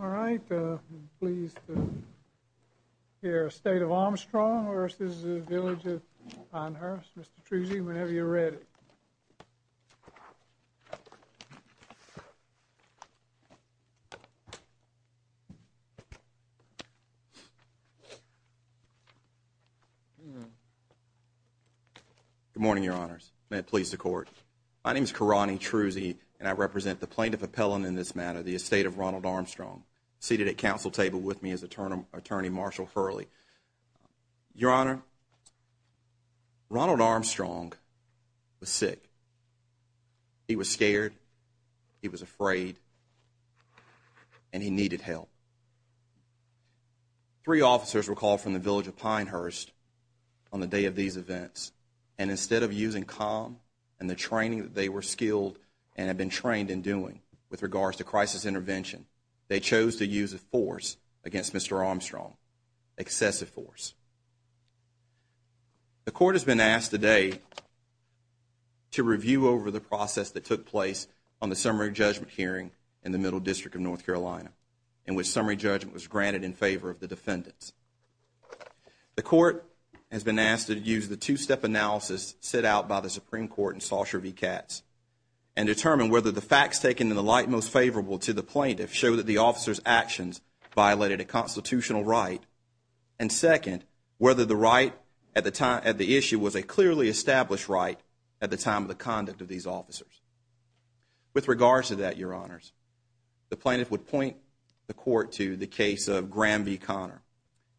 All right, I'm pleased to hear Estate of Armstrong v. The Village of Pinehurst. Mr. Truese, whenever you're ready. Good morning, Your Honors. May it please the Court. My name is Karani Truese, and I represent the Plaintiff Appellant in this matter, the Estate of Ronald Armstrong, seated at Council Table with me is Attorney Marshall Hurley. Your Honor, Ronald Armstrong was sick. He was scared, he was afraid, and he needed help. Three officers were called from the Village of Pinehurst on the day of these events, and instead of using calm and the training that they were skilled and had been trained in doing with regards to crisis intervention, they chose to use a force against Mr. Armstrong, excessive force. The Court has been asked today to review over the process that took place on the summary judgment hearing in the Middle District of North Carolina, in which summary judgment was granted in favor of the defendants. The Court has been asked to use the two-step analysis set out by the Supreme Court in Sausher v. Katz and determine whether the facts taken in the light most favorable to the plaintiff show that the officer's actions violated a constitutional right, and second, whether the right at the issue was a clearly established right at the time of the conduct of these officers. With regards to that, Your Honors, the plaintiff would point the Court to the case of Graham v. Conner.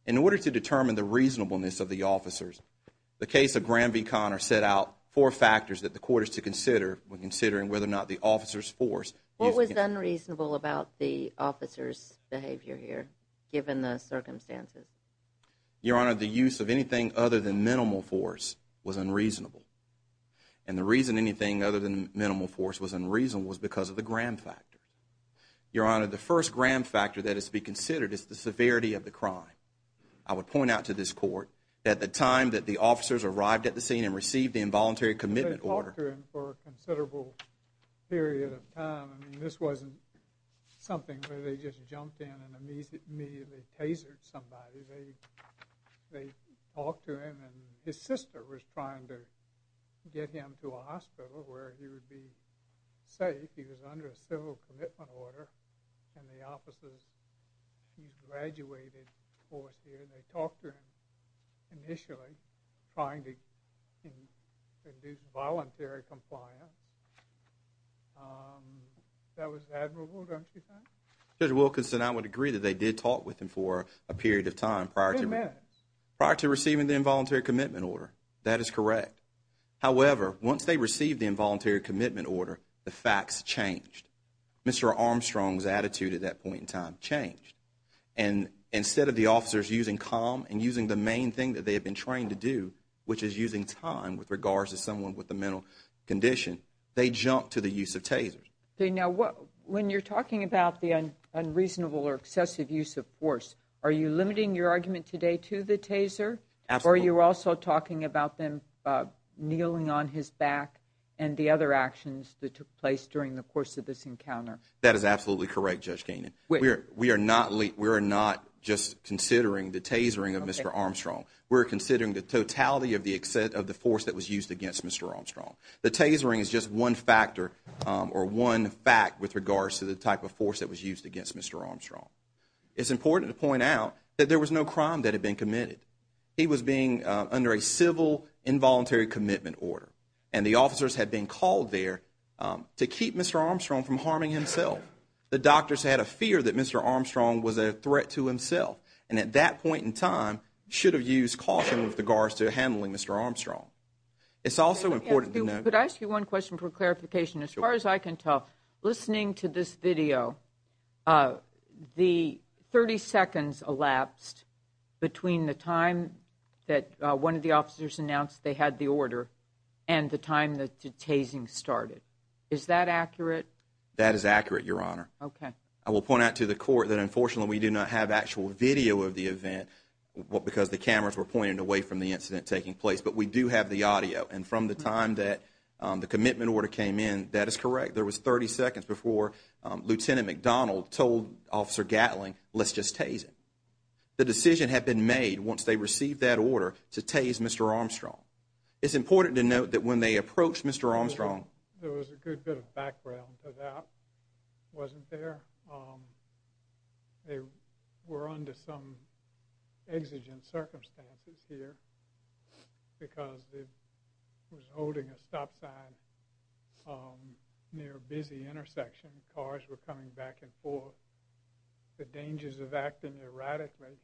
In order to determine the reasonableness of the officers, the case of Graham v. Conner set out four factors that the Court is to consider when considering whether or not the officer's force… What was unreasonable about the officer's behavior here, given the circumstances? Your Honor, the use of anything other than minimal force was unreasonable. And the reason anything other than minimal force was unreasonable was because of the Graham factor. Your Honor, the first Graham factor that is to be considered is the severity of the crime. I would point out to this Court that at the time that the officers arrived at the scene and received the involuntary commitment order… They talked to him, and his sister was trying to get him to a hospital where he would be safe. He was under a civil commitment order, and the officers graduated force here. They talked to him initially, trying to induce voluntary compliance. That was admirable, don't you think? Judge Wilkinson, I would agree that they did talk with him for a period of time prior to receiving the involuntary commitment order. That is correct. However, once they received the involuntary commitment order, the facts changed. Mr. Armstrong's attitude at that point in time changed. And instead of the officers using calm and using the main thing that they had been trained to do, which is using time with regards to someone with a mental condition, they jumped to the use of tasers. When you're talking about the unreasonable or excessive use of force, are you limiting your argument today to the taser? Absolutely. Or are you also talking about them kneeling on his back and the other actions that took place during the course of this encounter? That is absolutely correct, Judge Keenan. We are not just considering the tasering of Mr. Armstrong. We're considering the totality of the force that was used against Mr. Armstrong. The tasering is just one factor or one fact with regards to the type of force that was used against Mr. Armstrong. It's important to point out that there was no crime that had been committed. He was being under a civil involuntary commitment order, and the officers had been called there to keep Mr. Armstrong from harming himself. The doctors had a fear that Mr. Armstrong was a threat to himself, and at that point in time should have used caution with regards to handling Mr. Armstrong. Could I ask you one question for clarification? As far as I can tell, listening to this video, the 30 seconds elapsed between the time that one of the officers announced they had the order and the time that the tasing started. Is that accurate? That is accurate, Your Honor. I will point out to the court that unfortunately we do not have actual video of the event because the cameras were pointed away from the incident taking place, but we do have the audio, and from the time that the commitment order came in, that is correct. There was 30 seconds before Lieutenant McDonald told Officer Gatling, let's just tase him. The decision had been made once they received that order to tase Mr. Armstrong. It's important to note that when they approached Mr. Armstrong… There was a good bit of background to that. It wasn't there. They were under some exigent circumstances here because they were holding a stop sign near a busy intersection. Cars were coming back and forth. The dangers of acting erratically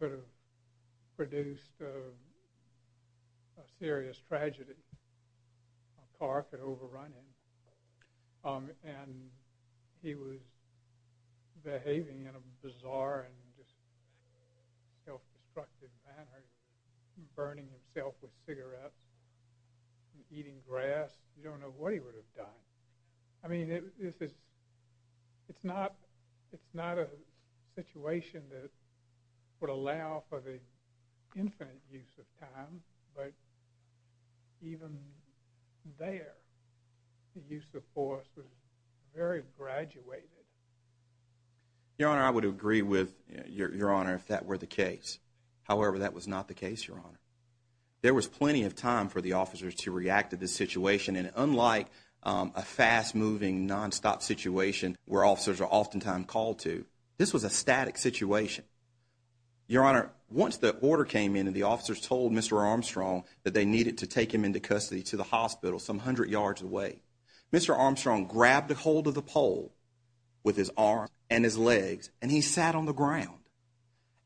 could have produced a serious tragedy. A car could have overrun him. He was behaving in a bizarre and self-destructive manner, burning himself with cigarettes and eating grass. You don't know what he would have done. It's not a situation that would allow for the infinite use of time, but even there, the use of force was very graduated. Your Honor, I would agree with Your Honor if that were the case. However, that was not the case, Your Honor. There was plenty of time for the officers to react to this situation, and unlike a fast-moving, non-stop situation where officers are oftentimes called to, this was a static situation. Your Honor, once the order came in and the officers told Mr. Armstrong that they needed to take him into custody to the hospital some hundred yards away, Mr. Armstrong grabbed a hold of the pole with his arms and his legs, and he sat on the ground.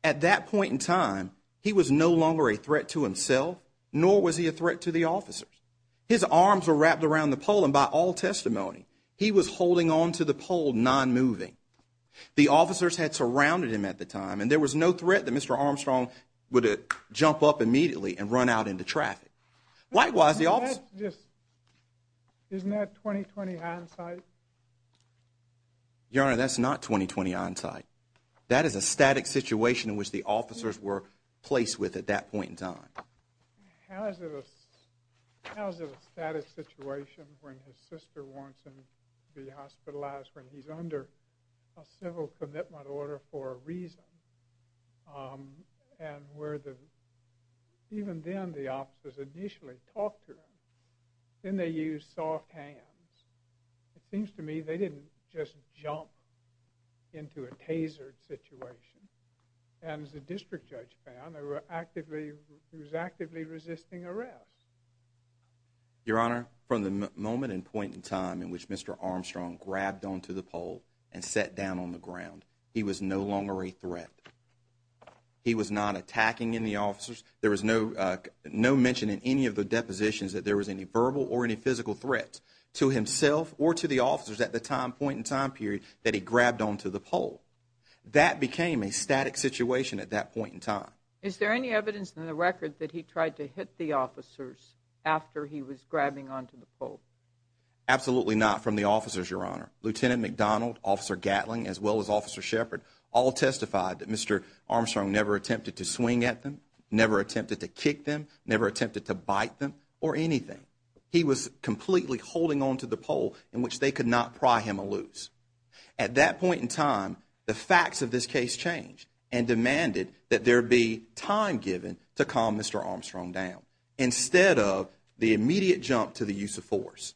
At that point in time, he was no longer a threat to himself, nor was he a threat to the officers. His arms were wrapped around the pole, and by all testimony, he was holding on to the pole, non-moving. The officers had surrounded him at the time, and there was no threat that Mr. Armstrong would jump up immediately and run out into traffic. Isn't that 20-20 hindsight? Your Honor, that's not 20-20 hindsight. That is a static situation in which the officers were placed with at that point in time. How is it a static situation when his sister wants him to be hospitalized when he's under a civil commitment order for a reason? Your Honor, from the moment and point in time in which Mr. Armstrong grabbed onto the pole and sat down on the ground, he was no longer a threat. He was not attacking any officers. There was no mention in any of the depositions that there was any verbal or any physical threat to himself or to the officers at the point in time period that he grabbed onto the pole. That became a static situation at that point in time. Is there any evidence in the record that he tried to hit the officers after he was grabbing onto the pole? Absolutely not from the officers, Your Honor. Lieutenant McDonald, Officer Gatling, as well as Officer Shepard all testified that Mr. Armstrong never attempted to swing at them, never attempted to kick them, never attempted to bite them or anything. He was completely holding onto the pole in which they could not pry him loose. At that point in time, the facts of this case changed and demanded that there be time given to calm Mr. Armstrong down instead of the immediate jump to the use of force.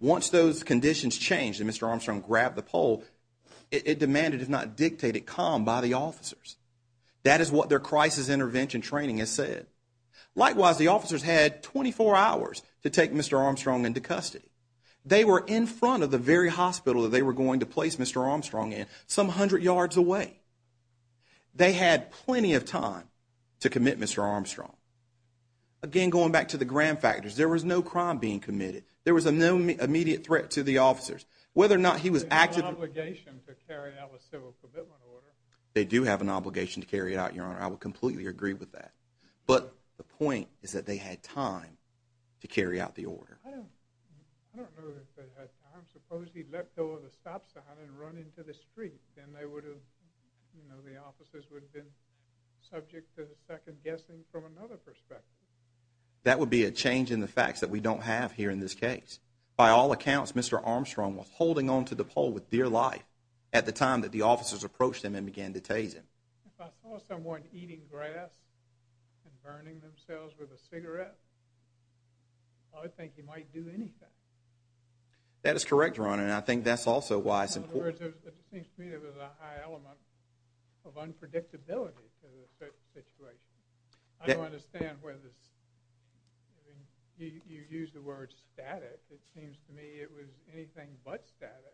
Once those conditions changed and Mr. Armstrong grabbed the pole, it demanded if not dictated calm by the officers. That is what their crisis intervention training has said. Likewise, the officers had 24 hours to take Mr. Armstrong into custody. They were in front of the very hospital that they were going to place Mr. Armstrong in some hundred yards away. They had plenty of time to commit Mr. Armstrong. Again, going back to the grand factors, there was no crime being committed. There was no immediate threat to the officers. They have an obligation to carry out a civil commitment order. I don't know if they had time. I suppose he'd let go of the stop sign and run into the street. Then the officers would have been subject to second guessing from another perspective. Mr. Armstrong was holding onto the pole with dear life at the time that the officers approached him and began to tase him. If I saw someone eating grass and burning themselves with a cigarette, I would think he might do anything. That is correct, Ron, and I think that's also why it's important. In other words, it seems to me there was a high element of unpredictability to the situation. I don't understand whether you use the word static. It seems to me it was anything but static.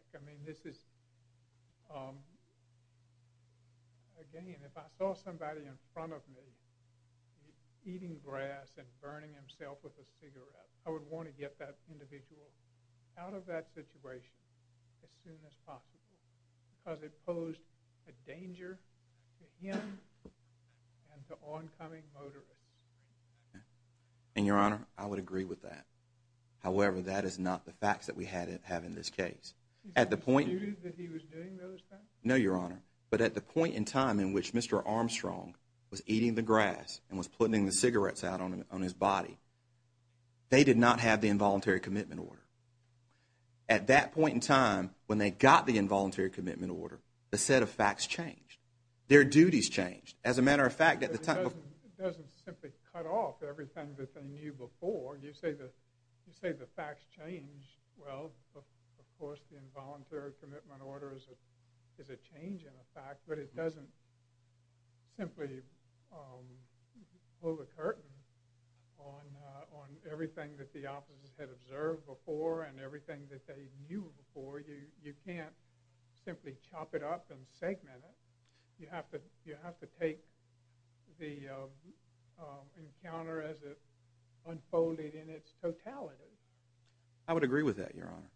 Again, if I saw somebody in front of me eating grass and burning himself with a cigarette, I would want to get that individual out of that situation as soon as possible because it posed a danger to him and to oncoming motorists. And, Your Honor, I would agree with that. However, that is not the facts that we have in this case. At the point in time in which Mr. Armstrong was eating the grass and was putting the cigarettes out on his body, they did not have the involuntary commitment order. At that point in time, when they got the involuntary commitment order, the set of facts changed. Their duties changed. It doesn't simply cut off everything that they knew before. You say the facts change. Well, of course, the involuntary commitment order is a change in a fact, but it doesn't simply pull the curtain on everything that the officers had observed before and everything that they knew before. You can't simply chop it up and segment it. You have to take the encounter as it unfolded in its totality. I would agree with that, Your Honor.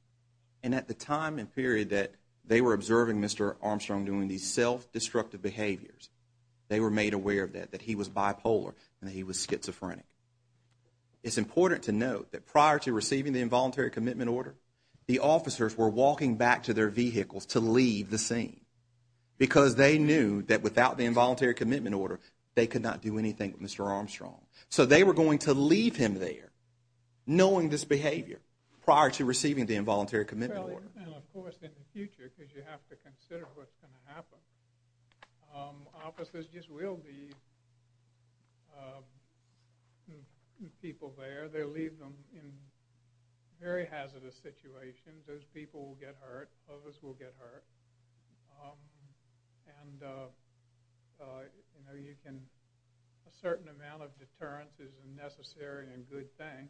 And at the time and period that they were observing Mr. Armstrong doing these self-destructive behaviors, they were made aware of that, that he was bipolar and that he was schizophrenic. It's important to note that prior to receiving the involuntary commitment order, the officers were walking back to their vehicles to leave the scene, because they knew that without the involuntary commitment order, they could not do anything with Mr. Armstrong. So they were going to leave him there, knowing this behavior, prior to receiving the involuntary commitment order. Well, of course, in the future, because you have to consider what's going to happen, officers just will be people there. They'll leave them in very hazardous situations. Those people will get hurt. Others will get hurt. And a certain amount of deterrence is a necessary and good thing.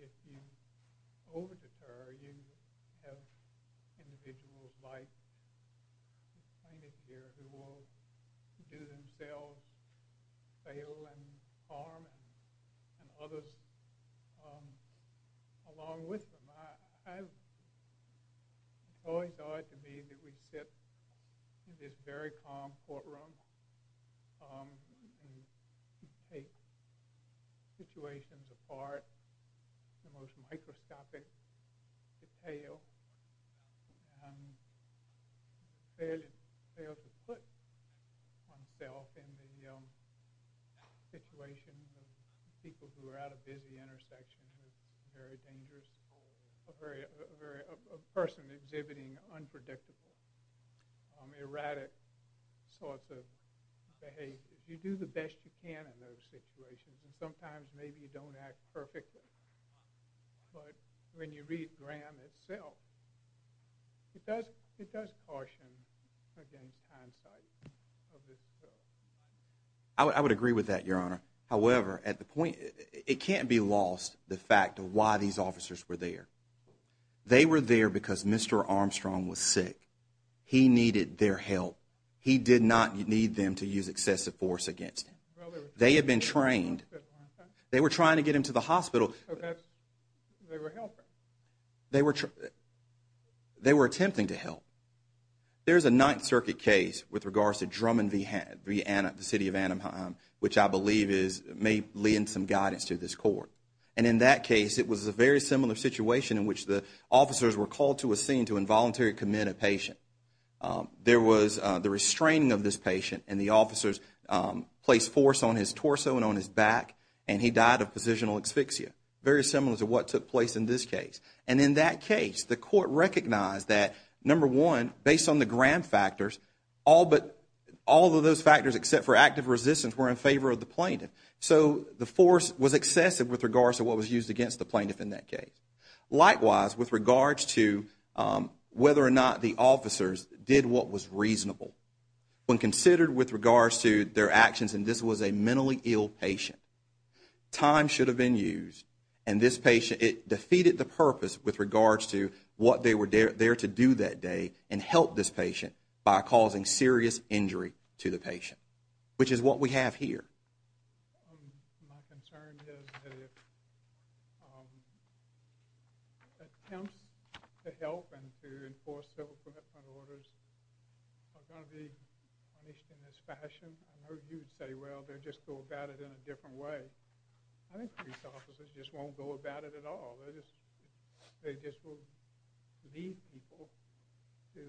If you over-deter, you have individuals like the plaintiff here who will do themselves, fail and harm, and others along with them. I've always thought, to me, that we sit in this very calm courtroom and take situations apart in the most microscopic detail. And fail to put oneself in the situation of people who are at a busy intersection, who are very dangerous, a person exhibiting unpredictable, erratic sorts of behavior. You do the best you can in those situations, and sometimes maybe you don't act perfectly. But when you read Graham itself, it does caution against hindsight. I would agree with that, Your Honor. However, it can't be lost, the fact of why these officers were there. They were there because Mr. Armstrong was sick. He needed their help. He did not need them to use excessive force against him. They had been trained. They were trying to get him to the hospital. They were attempting to help. There's a Ninth Circuit case with regards to Drummond v. Anaheim, the city of Anaheim, which I believe may lend some guidance to this court. And in that case, it was a very similar situation in which the officers were called to a scene to involuntarily commit a patient. There was the restraining of this patient, and the officers placed force on his torso and on his back, and he died of positional asphyxia, very similar to what took place in this case. And in that case, the court recognized that, number one, based on the Graham factors, all of those factors except for active resistance were in favor of the plaintiff. So the force was excessive with regards to what was used against the plaintiff in that case. Likewise, with regards to whether or not the officers did what was reasonable, when considered with regards to their actions, and this was a mentally ill patient, time should have been used. And this patient, it defeated the purpose with regards to what they were there to do that day and help this patient by causing serious injury to the patient, which is what we have here. My concern is that if attempts to help and to enforce civil commitment orders are going to be punished in this fashion, I know you'd say, well, they'll just go about it in a different way. I think police officers just won't go about it at all. They just will lead people to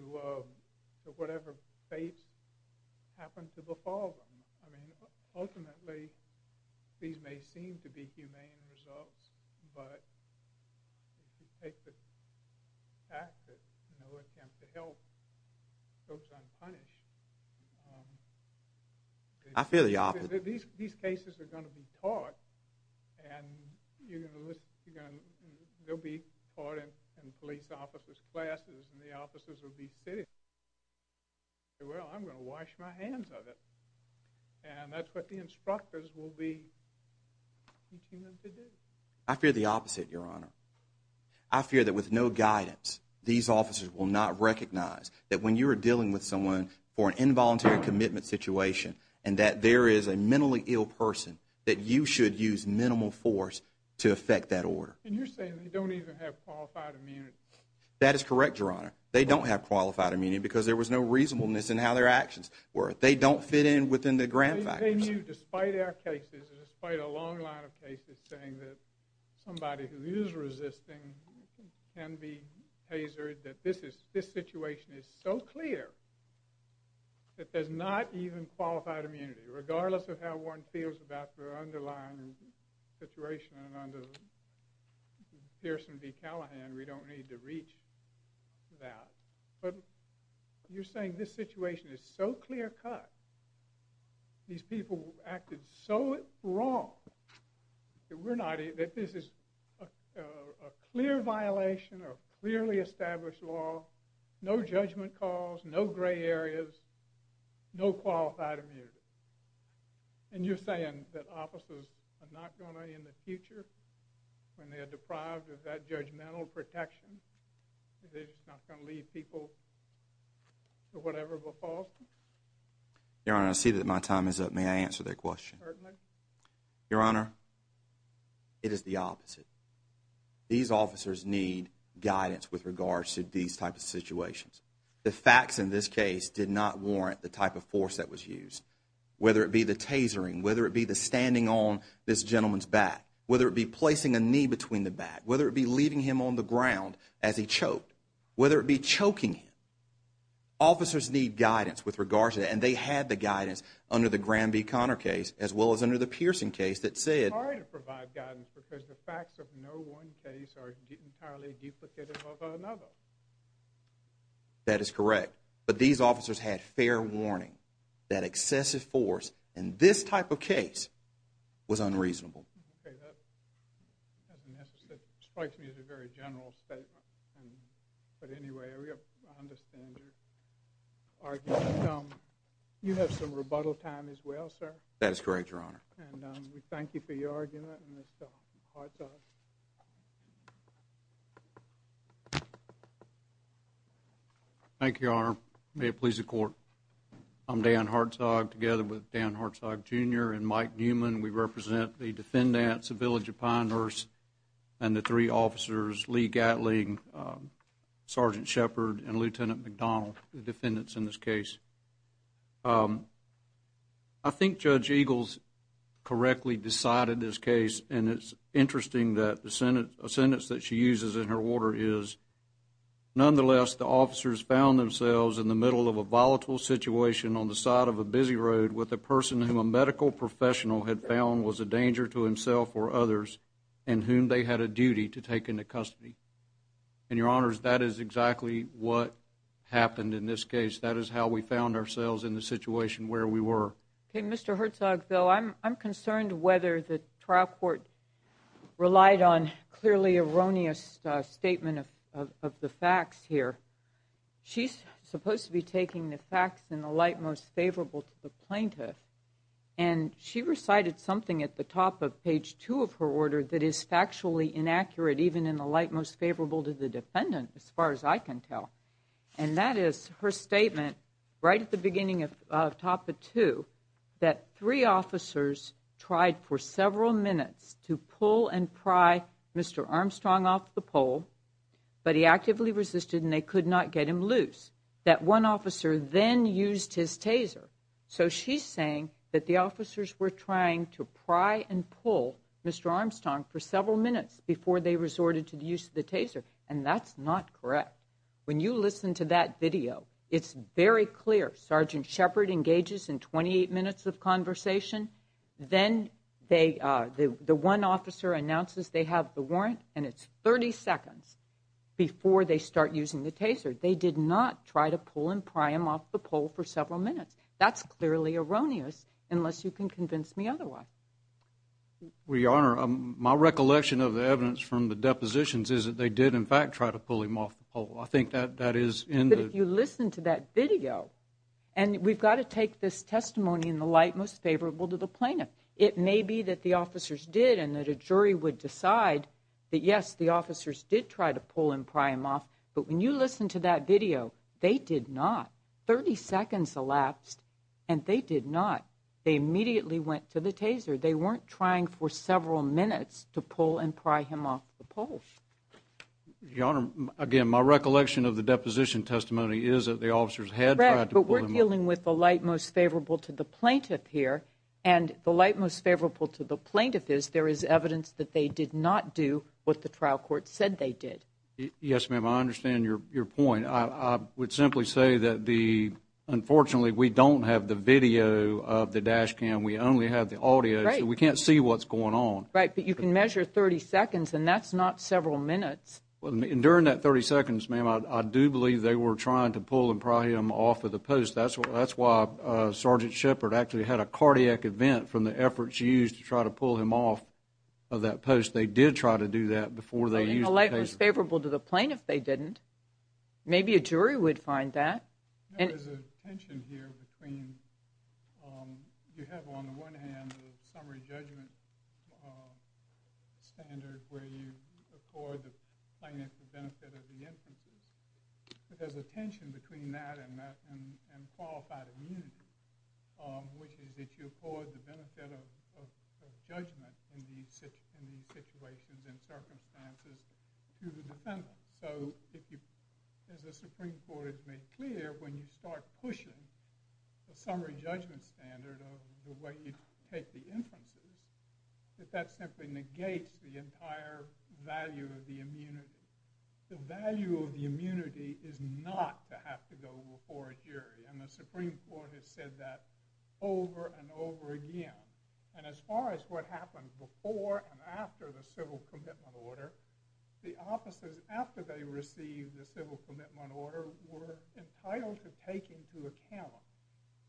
whatever fate happens to befall them. Ultimately, these may seem to be humane results, but if you take the fact that no attempt to help goes unpunished, these cases are going to be taught. And they'll be taught in police officers' classes, and the officers will be sitting there and say, well, I'm going to wash my hands of it. And that's what the instructors will be teaching them to do. And you're saying they don't even have qualified immunity. I'm saying you, despite our cases, despite a long line of cases saying that somebody who is resisting can be hazard, that this situation is so clear that there's not even qualified immunity. Regardless of how one feels about the underlying situation under Pierson v. Callahan, we don't need to reach that. But you're saying this situation is so clear-cut. These people acted so wrong that this is a clear violation of clearly established law, no judgment calls, no gray areas, no qualified immunity. And you're saying that officers are not going to, in the future, when they're deprived of that judgmental protection, they're just not going to lead people to whatever fate happens to befall them. Your Honor, I see that my time is up. May I answer that question? Certainly. Your Honor, it is the opposite. These officers need guidance with regards to these types of situations. The facts in this case did not warrant the type of force that was used. Whether it be the tasering, whether it be the standing on this gentleman's back, whether it be placing a knee between the back, whether it be leaving him on the ground as he choked, whether it be choking him, officers need guidance with regards to that. And they had the guidance under the Graham v. Conner case as well as under the Pierson case that said... It's hard to provide guidance because the facts of no one case are entirely duplicative of another. That is correct. But these officers had fair warning that excessive force in this type of case was unreasonable. Okay, that strikes me as a very general statement. But anyway, I understand your argument. You have some rebuttal time as well, sir? That is correct, Your Honor. And we thank you for your argument, Mr. Hartzog. Thank you, Your Honor. May it please the Court. I'm Dan Hartzog together with Dan Hartzog, Jr. and Mike Newman. We represent the defendants, the village of Pinehurst, and the three officers, Lee Gatling, Sergeant Shepard, and Lieutenant McDonald, the defendants in this case. I think Judge Eagles correctly decided this case. And it's interesting that the sentence that she uses in her order is, Nonetheless, the officers found themselves in the middle of a volatile situation on the side of a busy road with a person whom a medical professional had found was a danger to himself or others, and whom they had a duty to take into custody. And, Your Honors, that is exactly what happened in this case. That is how we found ourselves in the situation where we were. Okay, Mr. Hartzog, though, I'm concerned whether the trial court relied on the facts here. She's supposed to be taking the facts in the light most favorable to the plaintiff. And she recited something at the top of page two of her order that is factually inaccurate, even in the light most favorable to the defendant, as far as I can tell. And that is her statement right at the beginning of top of two that three officers tried for several minutes to pull and pry Mr. Armstrong off the pole, but he actively resisted and they could not get him loose. That one officer then used his taser. So she's saying that the officers were trying to pry and pull Mr. Armstrong for several minutes before they resorted to the use of the taser. And that's not correct. When you listen to that video, it's very clear. Sergeant Shepard engages in 28 minutes of conversation, then the one officer announces they have the warrant, and it's 30 seconds before they start using the taser. They did not try to pull and pry him off the pole for several minutes. That's clearly erroneous, unless you can convince me otherwise. Well, Your Honor, my recollection of the evidence from the depositions is that they did, in fact, try to pull him off the pole. I think that is in the... But if you listen to that video, and we've got to take this testimony in the light most favorable to the plaintiff. It may be that the officers did and that a jury would decide that, yes, the officers did try to pull and pry him off, but when you listen to that video, they did not. 30 seconds elapsed, and they did not. They immediately went to the taser. They weren't trying for several minutes to pull and pry him off the pole. Your Honor, again, my recollection of the deposition testimony is that the officers had tried to pull him... But we're dealing with the light most favorable to the plaintiff here, and the light most favorable to the plaintiff is there is evidence that they did not do what the trial court said they did. Yes, ma'am, I understand your point. I would simply say that, unfortunately, we don't have the video of the dash cam. We only have the audio, so we can't see what's going on. Right, but you can measure 30 seconds, and that's not several minutes. During that 30 seconds, ma'am, I do believe they were trying to pull and pry him off of the post. That's why Sergeant Shepard actually had a cardiac event from the efforts used to try to pull him off of that post. They did try to do that before they used the taser. The light most favorable to the plaintiff, they didn't. Maybe a jury would find that. There is a tension here between... You have, on the one hand, a summary judgment standard where you accord the plaintiff the benefit of the infancy, but there's a tension between that and qualified immunity, which is that you accord the benefit of judgment in these situations and circumstances to the defendant. As the Supreme Court has made clear, when you start pushing the summary judgment standard of the way you take the inferences, that that simply negates the entire value of the immunity. The value of the immunity is not to have to go before a jury. The Supreme Court has said that over and over again. As far as what happened before and after the Civil Commitment Order, the officers after they received the Civil Commitment Order were entitled to take into account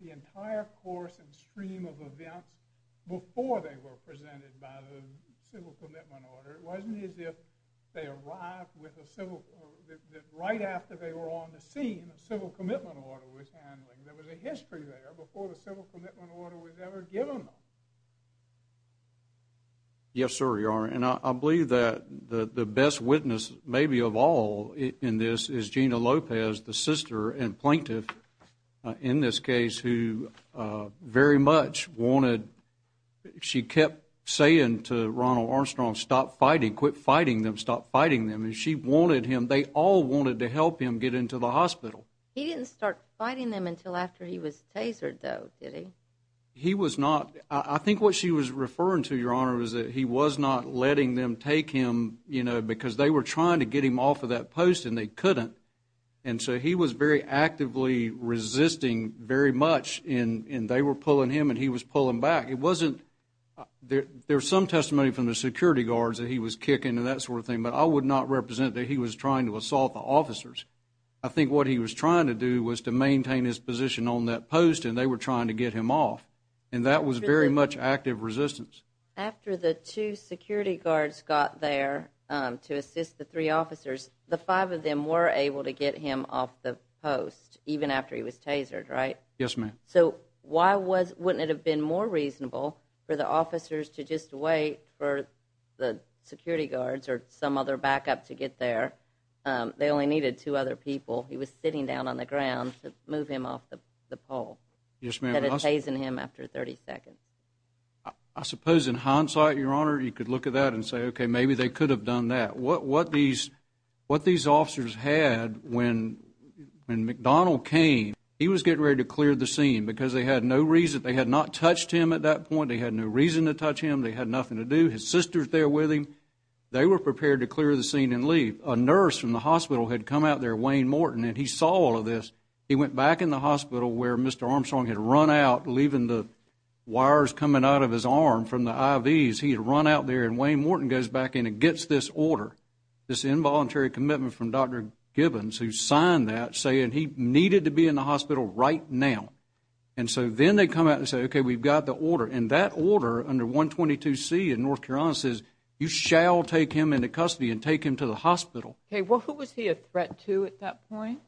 the entire course and stream of events before they were presented by the Civil Commitment Order. It wasn't as if they arrived right after they were on the scene that the Civil Commitment Order was handling. There was a history there before the Civil Commitment Order was ever given them. Yes, sir, you are. And I believe that the best witness, maybe of all in this, is Gina Lopez, the sister and plaintiff in this case who very much wanted... She kept saying to Ronald Armstrong, stop fighting, quit fighting them, stop fighting them. And she wanted him, they all wanted to help him get into the hospital. He didn't start fighting them until after he was tasered, though, did he? He was not. I think what she was referring to, Your Honor, was that he was not letting them take him because they were trying to get him off of that post and they couldn't. And so he was very actively resisting very much and they were pulling him and he was pulling back. It wasn't... There's some testimony from the security guards that he was kicking and that sort of thing, but I would not represent that he was trying to assault the officers. I think what he was trying to do was to maintain his position on that post and they were trying to get him off. And that was very much active resistance. After the two security guards got there to assist the three officers, the five of them were able to get him off the post, even after he was tasered, right? Yes, ma'am. So why wouldn't it have been more reasonable for the officers to just wait for the security guards or some other backup to get there? They only needed two other people. He was sitting down on the ground to move him off the pole that had tasered him after 30 seconds. I suppose in hindsight, Your Honor, you could look at that and say, okay, maybe they could have done that. What these officers had when McDonnell came, he was getting ready to clear the scene because they had no reason. They had not touched him at that point. They had no reason to touch him. They had nothing to do. His sister was there with him. They were prepared to clear the scene and leave. A nurse from the hospital had come out there, Wayne Morton, and he saw all of this. He went back in the hospital where Mr. Armstrong had run out, leaving the wires coming out of his arm from the IVs. He had run out there and Wayne Morton goes back in and gets this order, this involuntary commitment from Dr. Gibbons, who signed that saying he needed to be in the hospital right now. Then they come out and say, okay, we've got the order. That order under 122C in North Carolina says you shall take him into custody and take him to the hospital. Who was he a threat to at that point?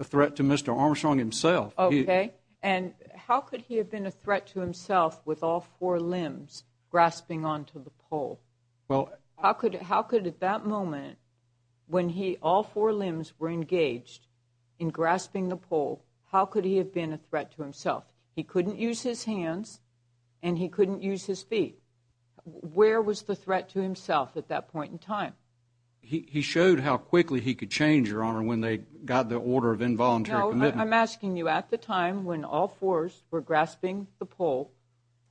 A threat to Mr. Armstrong himself. How could he have been a threat to himself with all four limbs grasping onto the pole? How could at that moment, when all four limbs were engaged in grasping the pole, how could he have been a threat to himself? He couldn't use his hands and he couldn't use his feet. Where was the threat to himself at that point in time? He showed how quickly he could change, Your Honor, when they got the order of involuntary commitment. No, I'm asking you, at the time when all fours were grasping the pole,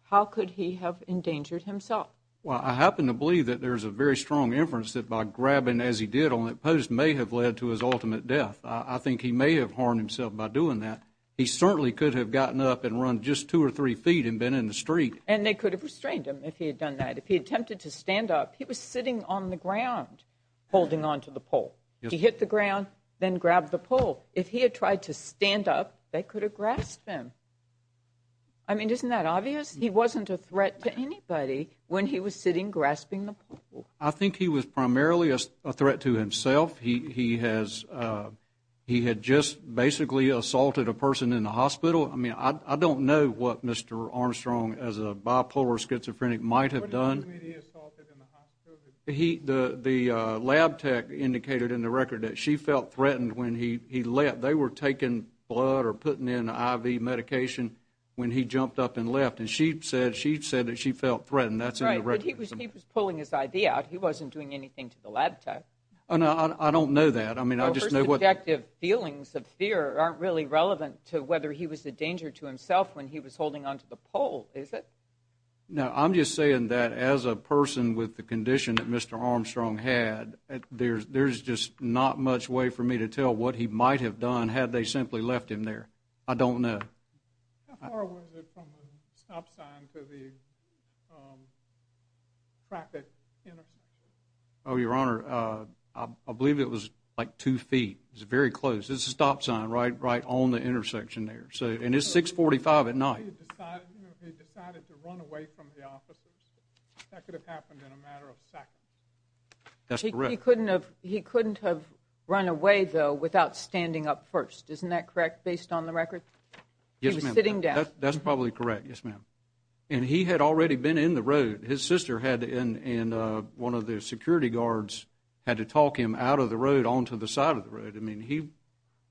how could he have endangered himself? Well, I happen to believe that there's a very strong inference that by grabbing as he did on that post may have led to his ultimate death. I think he may have harmed himself by doing that. He certainly could have gotten up and run just two or three feet and been in the street. And they could have restrained him if he had done that. If he attempted to stand up, he was sitting on the ground holding onto the pole. He hit the ground, then grabbed the pole. If he had tried to stand up, they could have grasped him. I mean, isn't that obvious? He wasn't a threat to anybody when he was sitting grasping the pole. I think he was primarily a threat to himself. He had just basically assaulted a person in the hospital. I mean, I don't know what Mr. Armstrong as a bipolar schizophrenic might have done. The lab tech indicated in the record that she felt threatened when he leapt. They were taking blood or putting in IV medication when he jumped up and leapt. And she said that she felt threatened. That's in the record. But he was pulling his IV out. He wasn't doing anything to the lab tech. I don't know that. I mean, I just know what... Your subjective feelings of fear aren't really relevant to whether he was a danger to himself when he was holding onto the pole, is it? No, I'm just saying that as a person with the condition that Mr. Armstrong had, there's just not much way for me to tell what he might have done had they simply left him there. I don't know. How far was it from the stop sign to the traffic intersection? Oh, Your Honor, I believe it was like two feet. It was very close. It's a stop sign right on the intersection there. And it's 645 at night. He decided to run away from the officers. That could have happened in a matter of seconds. That's correct. He couldn't have run away, though, without standing up first. Isn't that correct based on the record? Yes, ma'am. He was sitting down. That's probably correct. Yes, ma'am. And he had already been in the road. His sister had and one of the security guards had to talk him out of the road onto the side of the road. I mean,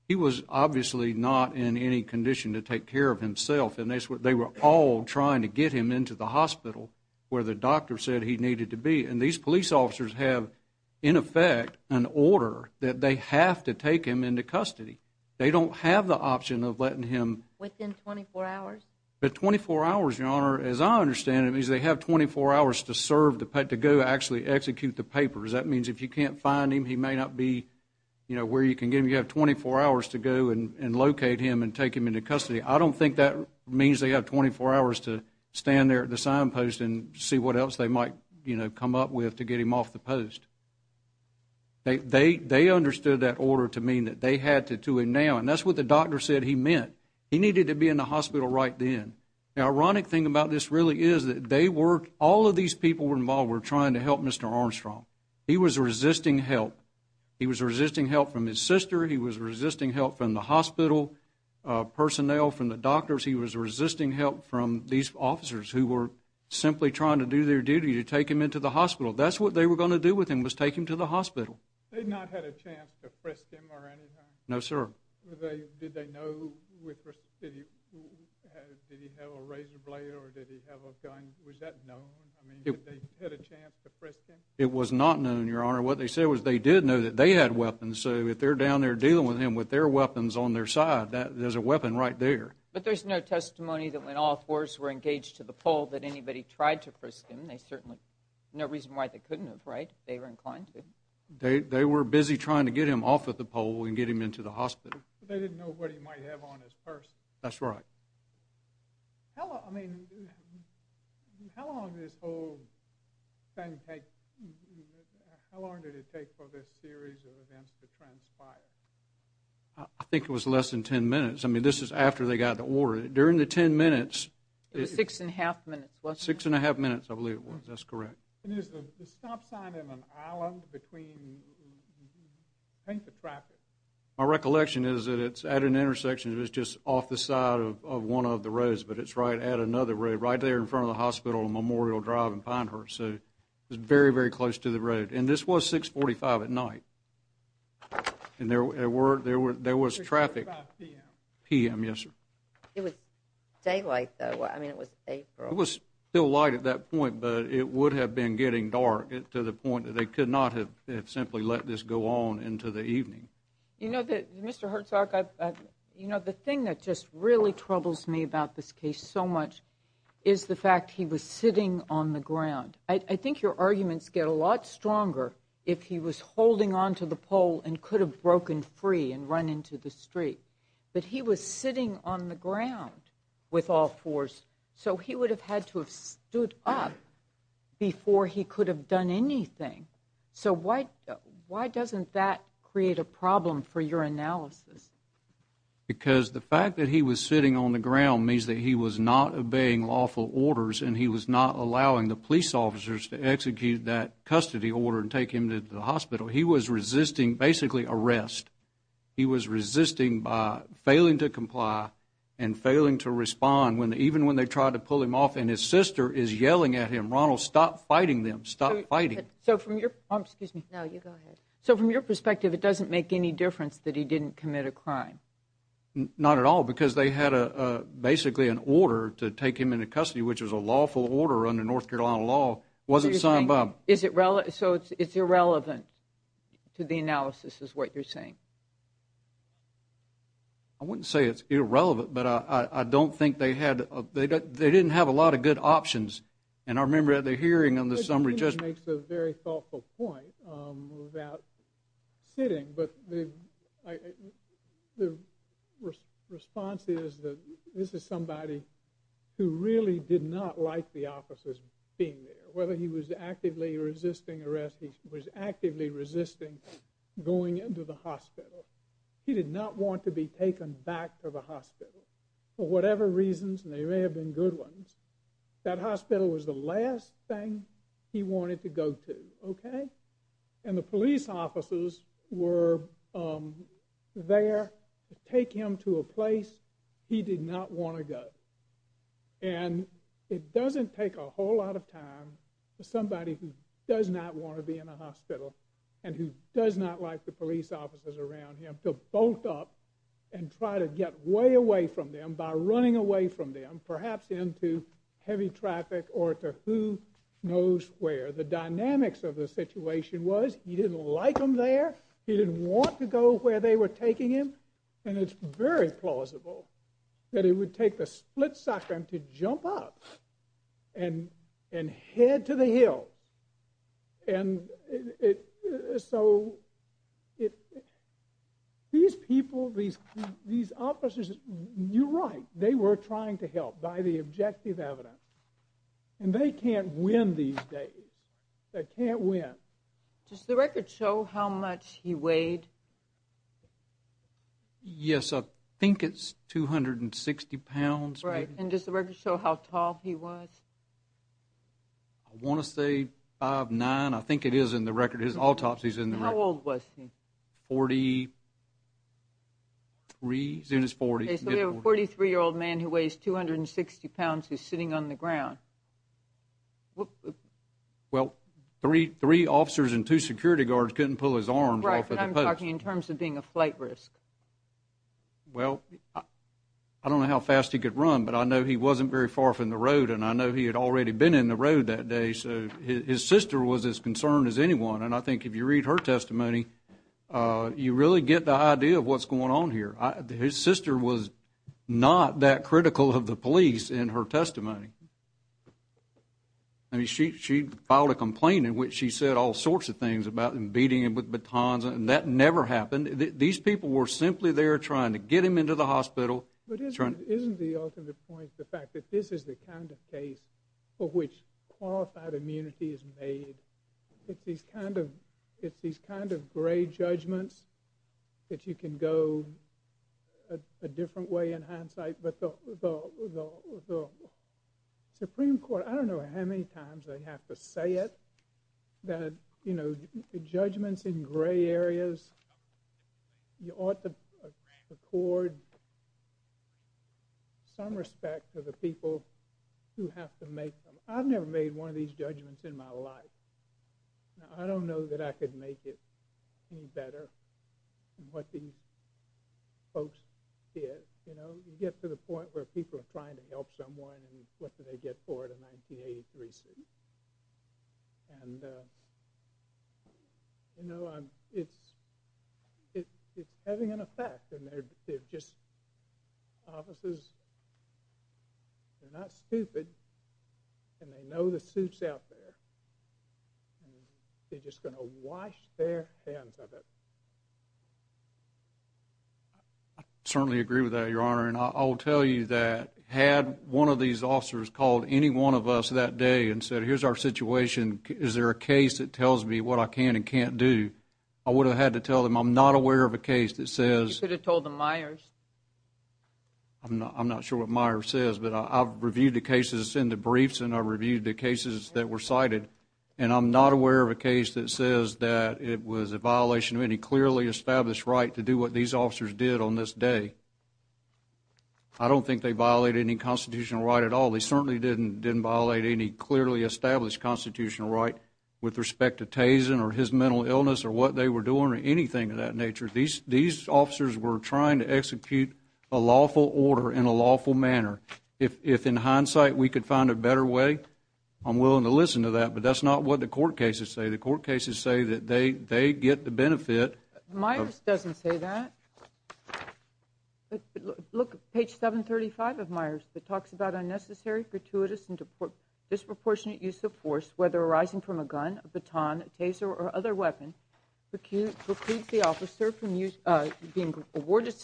he was obviously not in any condition to take care of himself. And they were all trying to get him into the hospital where the doctor said he needed to be. And these police officers have in effect an order that they have to take him into custody. They don't have the option of letting him within 24 hours. But 24 hours, Your Honor, as I understand it, means they have 24 hours to serve, to go actually execute the papers. That means if you can't find him, he may not be where you can get him. You have 24 hours to go and locate him and take him into custody. I don't think that means they have 24 hours to stand there at the signpost and see what else they might come up with to get him off the post. They understood that order to mean that they had to do it now. And that's what the doctor said he meant. He needed to be in the hospital right then. The ironic thing about this really is that they were, all of these people involved were trying to help Mr. Armstrong. He was resisting help. He was resisting help from his sister. He was resisting help from the hospital personnel, from the doctors. He was resisting help from these officers who were simply trying to do their duty to take him into the hospital. That's what they were going to do with him, was take him to the hospital. They had not had a chance to frisk him or anything? No, sir. Did they know, did he have a razor blade or did he have a gun? Was that known? I mean, did they have a chance to frisk him? It was not known, Your Honor. What they said was they did know that they had weapons, so if they're down there dealing with him with their weapons on their side, there's a weapon right there. But there's no testimony that when all fours were engaged to the pole that anybody tried to frisk him. They certainly, no reason why they couldn't have, right? They were inclined to. They were busy trying to get him off of the pole and get him into the hospital. They didn't know what he might have on his purse. That's right. How long, I mean, how long did this whole thing take, how long did it take for this series of events to transpire? I think it was less than ten minutes. I mean, this is after they got the order. During the ten minutes, it was six and a half minutes, wasn't it? Six and a half minutes, I believe it was. That's correct. And is the stop sign in an island between I think the traffic. My recollection is that it's at an intersection that's just off the side of one of the roads, but it's right at another road, right there in front of the hospital on Memorial Drive in Pinehurst, so it's very, very close to the road. And this was 645 at night. And there was traffic. 645 p.m. p.m., yes, sir. It was daylight, though. I mean, it was April. It was still light at that point, but it would have been getting dark to the point that they could not have simply let this go on into the evening. You know, Mr. Hertzog, you know, the thing that just really troubles me about this case so much is the fact he was sitting on the ground. I think your arguments get a lot stronger if he was holding onto the pole and could have broken free and run into the street. But he was sitting on the ground with all fours, so he would have had to have stood up before he could have done anything. So why doesn't that create a problem for your analysis? Because the fact that he was sitting on the ground means that he was not obeying lawful orders and he was not allowing the police officers to execute that custody order and take him to the hospital. He was resisting basically arrest. He was resisting by failing to comply and failing to respond, even when they tried to pull him off. And his sister is yelling at him, Ronald, stop fighting them. Stop fighting. So from your perspective, it doesn't make any difference that he didn't commit a crime? Not at all, because they had basically an order to take him into custody, which was a lawful order under North Carolina law. It wasn't signed by them. So it's irrelevant to the analysis is what you're saying. I wouldn't say it's irrelevant, but I don't think they had they didn't have a lot of good options. And I remember at the hearing on the summary judge... I think that makes a very thoughtful point about sitting, but the response is that this is somebody who really did not like the officers being there. Whether he was actively resisting arrest, he was actively resisting going into the hospital. He did not want to be taken back to the hospital for whatever reasons, and they may have been good ones. That hospital was the last thing he wanted to go to. And the police officers were there to take him to a place he did not want to go. And it doesn't take a whole lot of time for somebody who does not want to be in a hospital and who does not like the police officers around him to bolt up and try to get way away from them by running away from them perhaps into heavy traffic or to who knows where. The dynamics of the situation was he didn't like them there, he didn't want to go where they were taking him, and it's very plausible that it would take the split second to jump up and head to the hill. And so these people, these officers, you're right, they were trying to help by the objective evidence. And they can't win these days. They can't win. Does the record show how much he weighed? Yes, I think it's 260 pounds. Right. And does the record show how tall he was? I want to say 5'9". I think it is in the record. His autopsy is in the record. How old was he? 43, soon as 40. Okay, so we have a 43-year-old man who weighs 260 pounds who's sitting on the ground. Well, three officers and two security guards couldn't pull his arms off of the post. Right, but I'm talking in terms of being a flight risk. Well, I don't know how fast he could run, but I know he wasn't very far from the road, and I know he had already been in the road that day, so his sister was as concerned as anyone. And I think if you read her testimony, you really get the idea of what's going on here. His sister was not that critical of the police in her testimony. I mean, she filed a complaint in which she said all sorts of things about him beating him with batons, and that never happened. These people were simply there trying to get him into the hospital. But isn't the ultimate point the fact that this is the kind of case for which qualified immunity is made? It's these kind of gray judgments that you can go a different way in hindsight, but the Supreme Court, I don't know how many times they have to say it, that judgments in gray areas, you ought to record some respect for the people who have to make them. I've never made one of these judgments in my life. I don't know that I could make it any better than what these folks did. You get to the point where people are trying to help someone, and what do they get for it? A 1983 suit. And, you know, it's having an effect. They're just officers. They're not stupid, and they know the suit's out there. They're just going to wash their hands of it. I certainly agree with that, Your Honor, and I'll tell you that had one of these officers called any one of us that day and said, here's our situation, is there a case that tells me what I can and can't do, I would have had to tell them I'm not aware of a case that says... You could have told the Myers. I'm not sure what Myers says, but I've reviewed the cases in the briefs, and I've reviewed the cases that were cited, and I'm not aware of a case that says that it was a violation of any clearly established right to do what these officers did on this day. I don't think they violated any constitutional right at all. They certainly didn't violate any clearly established constitutional right with respect to Tazen or his mental illness or what they were doing or anything of that nature. These officers were trying to execute a lawful order in a lawful manner. If in hindsight we could find a better way, I'm willing to listen to that, but that's not what the court cases say. The court cases say that they get the benefit... Myers doesn't say that. Look, page 735 of Myers that talks about unnecessary, gratuitous, and disproportionate use of force, whether arising from a gun, a baton, a taser, or other weapon, precludes the officer from being awarded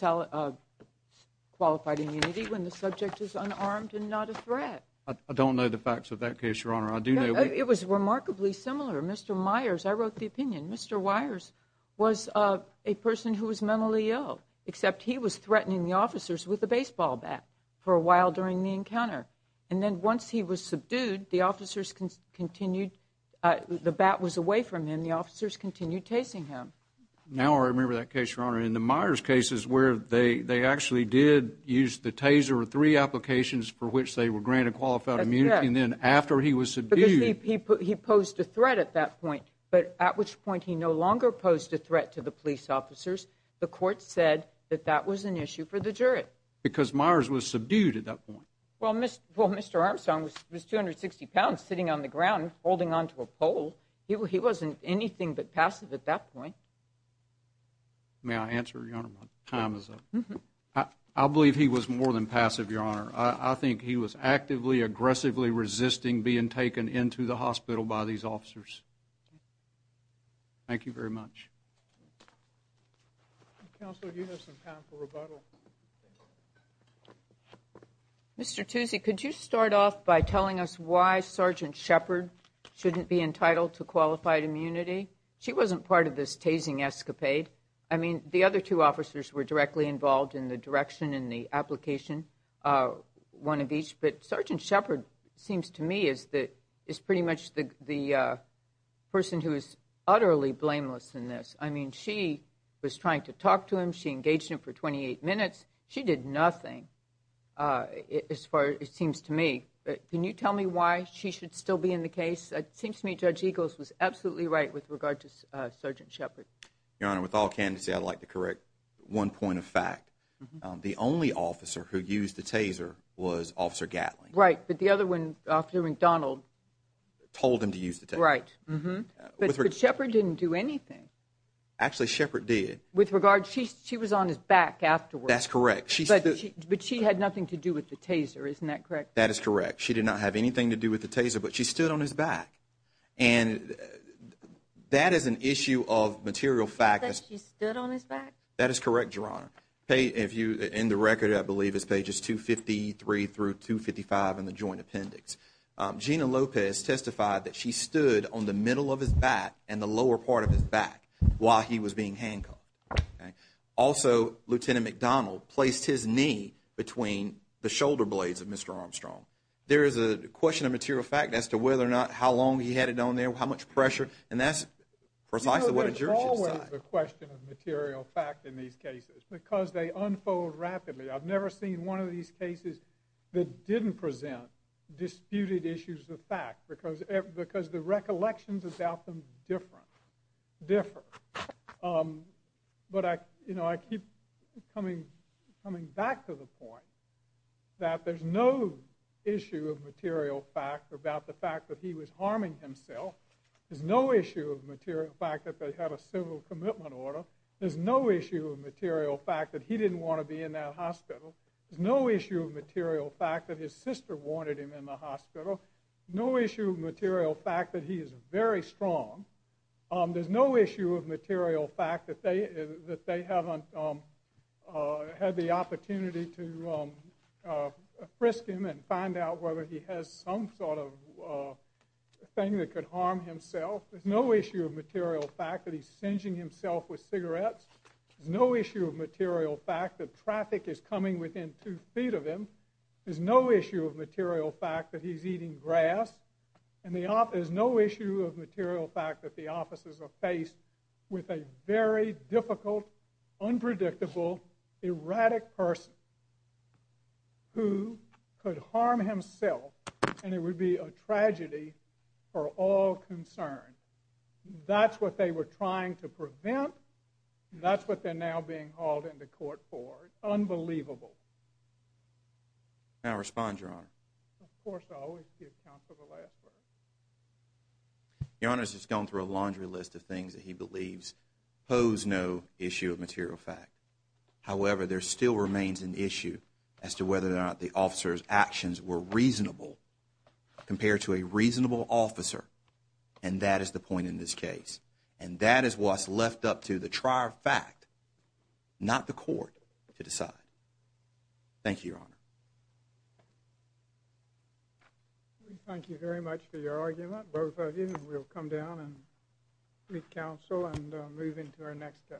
qualified immunity when the subject is unarmed and not a threat. I don't know the facts of that case, Your Honor. I do know... It was remarkably similar. Mr. Myers, I wrote the opinion. Mr. Wyers was a person who was mentally ill, except he was threatening the officers with a baseball bat for a while during the encounter. And then once he was subdued, the officers continued... The bat was away from him. The officers continued chasing him. Now I remember that case, Your Honor. In the Myers cases where they actually did use the taser or three applications for which they were granted qualified immunity, and then after he was subdued... Because he posed a threat at that point, but at which point he no longer posed a threat to the police officers, the court said that that was an issue for the jury. Because Myers was subdued at that point. Well, Mr. Armstrong was 260 pounds sitting on the ground holding onto a pole. He wasn't anything but passive at that point. May I answer, Your Honor? My time is up. I believe he was more than passive, Your Honor. I think he was actively, aggressively resisting being taken into the hospital by these officers. Thank you very much. Counselor, do you have some time for rebuttal? Mr. Tuzzi, could you start off by telling us why Sergeant Shepard shouldn't be entitled to qualified immunity? She wasn't part of this tasing escapade. I mean, the other two officers were directly involved in the direction and the application, one of each, but Sergeant Shepard seems to me as pretty much the person who is utterly blameless in this. I mean, she was trying to talk to him. She engaged him for 28 minutes. She did nothing, as far as it seems to me. Can you tell me why she should still be in the case? It seems to me Judge Eagles was absolutely right with regard to Sergeant Shepard. Your Honor, with all candidacy, I'd like to correct one point of fact. The only officer who used the taser was Officer Gatling. Right, but the other one, Officer McDonald, told him to use the taser. Right. But Shepard didn't do anything. Actually, Shepard did. With regard, she was on his back afterwards. That's correct. But she had nothing to do with the taser. Isn't that correct? That is correct. She did not have anything to do with the taser, but she stood on his back. And that is an issue of material fact. That she stood on his back? That is correct, Your Honor. In the record, I believe it's pages 253 through 255 in the Joint Appendix, Gina Lopez testified that she stood on the middle of his back and the lower part of his back while he was being handcuffed. Also, Lieutenant McDonald placed his knee between the shoulder blades of Mr. Armstrong. There is a question of material fact as to whether or not, how long he had it on there, how much pressure, and that's precisely what a jurorship side. There is always a question of material fact in these cases because they unfold rapidly. I've never seen one of these cases that didn't present disputed issues of fact because the recollections about them differ. But I keep coming back to the point that there's no issue of material fact about the fact that he was harming himself. There's no issue of material fact that they had a civil commitment order. There's no issue of material fact that he didn't want to be in that hospital. There's no issue of material fact that his sister wanted him in the hospital. No issue of material fact that he is very strong. There's no issue of material fact that they haven't had the opportunity to frisk him and find out whether he has some sort of thing that could harm himself. There's no issue of material fact that he's singeing himself with cigarettes. There's no issue of material fact that traffic is coming within two feet of him. There's no issue of material fact that he's eating grass. And there's no issue of material fact that the officers are faced with a very difficult, unpredictable, erratic person who could harm himself, and it would be a tragedy for all concerned. That's what they were trying to prevent, and that's what they're now being hauled into court for. It's unbelievable. Of course, I always give counsel the last word. Your Honor, this has gone through a laundry list of things that he believes pose no issue of material fact. However, there still remains an issue as to whether or not the officer's actions were reasonable compared to a reasonable officer, and that is the point in this case. And that is what's left up to the trier fact, not the court, to decide. Thank you, Your Honor. Thank you very much for your argument, both of you. We'll come down and meet counsel and move into our next case. Thank you.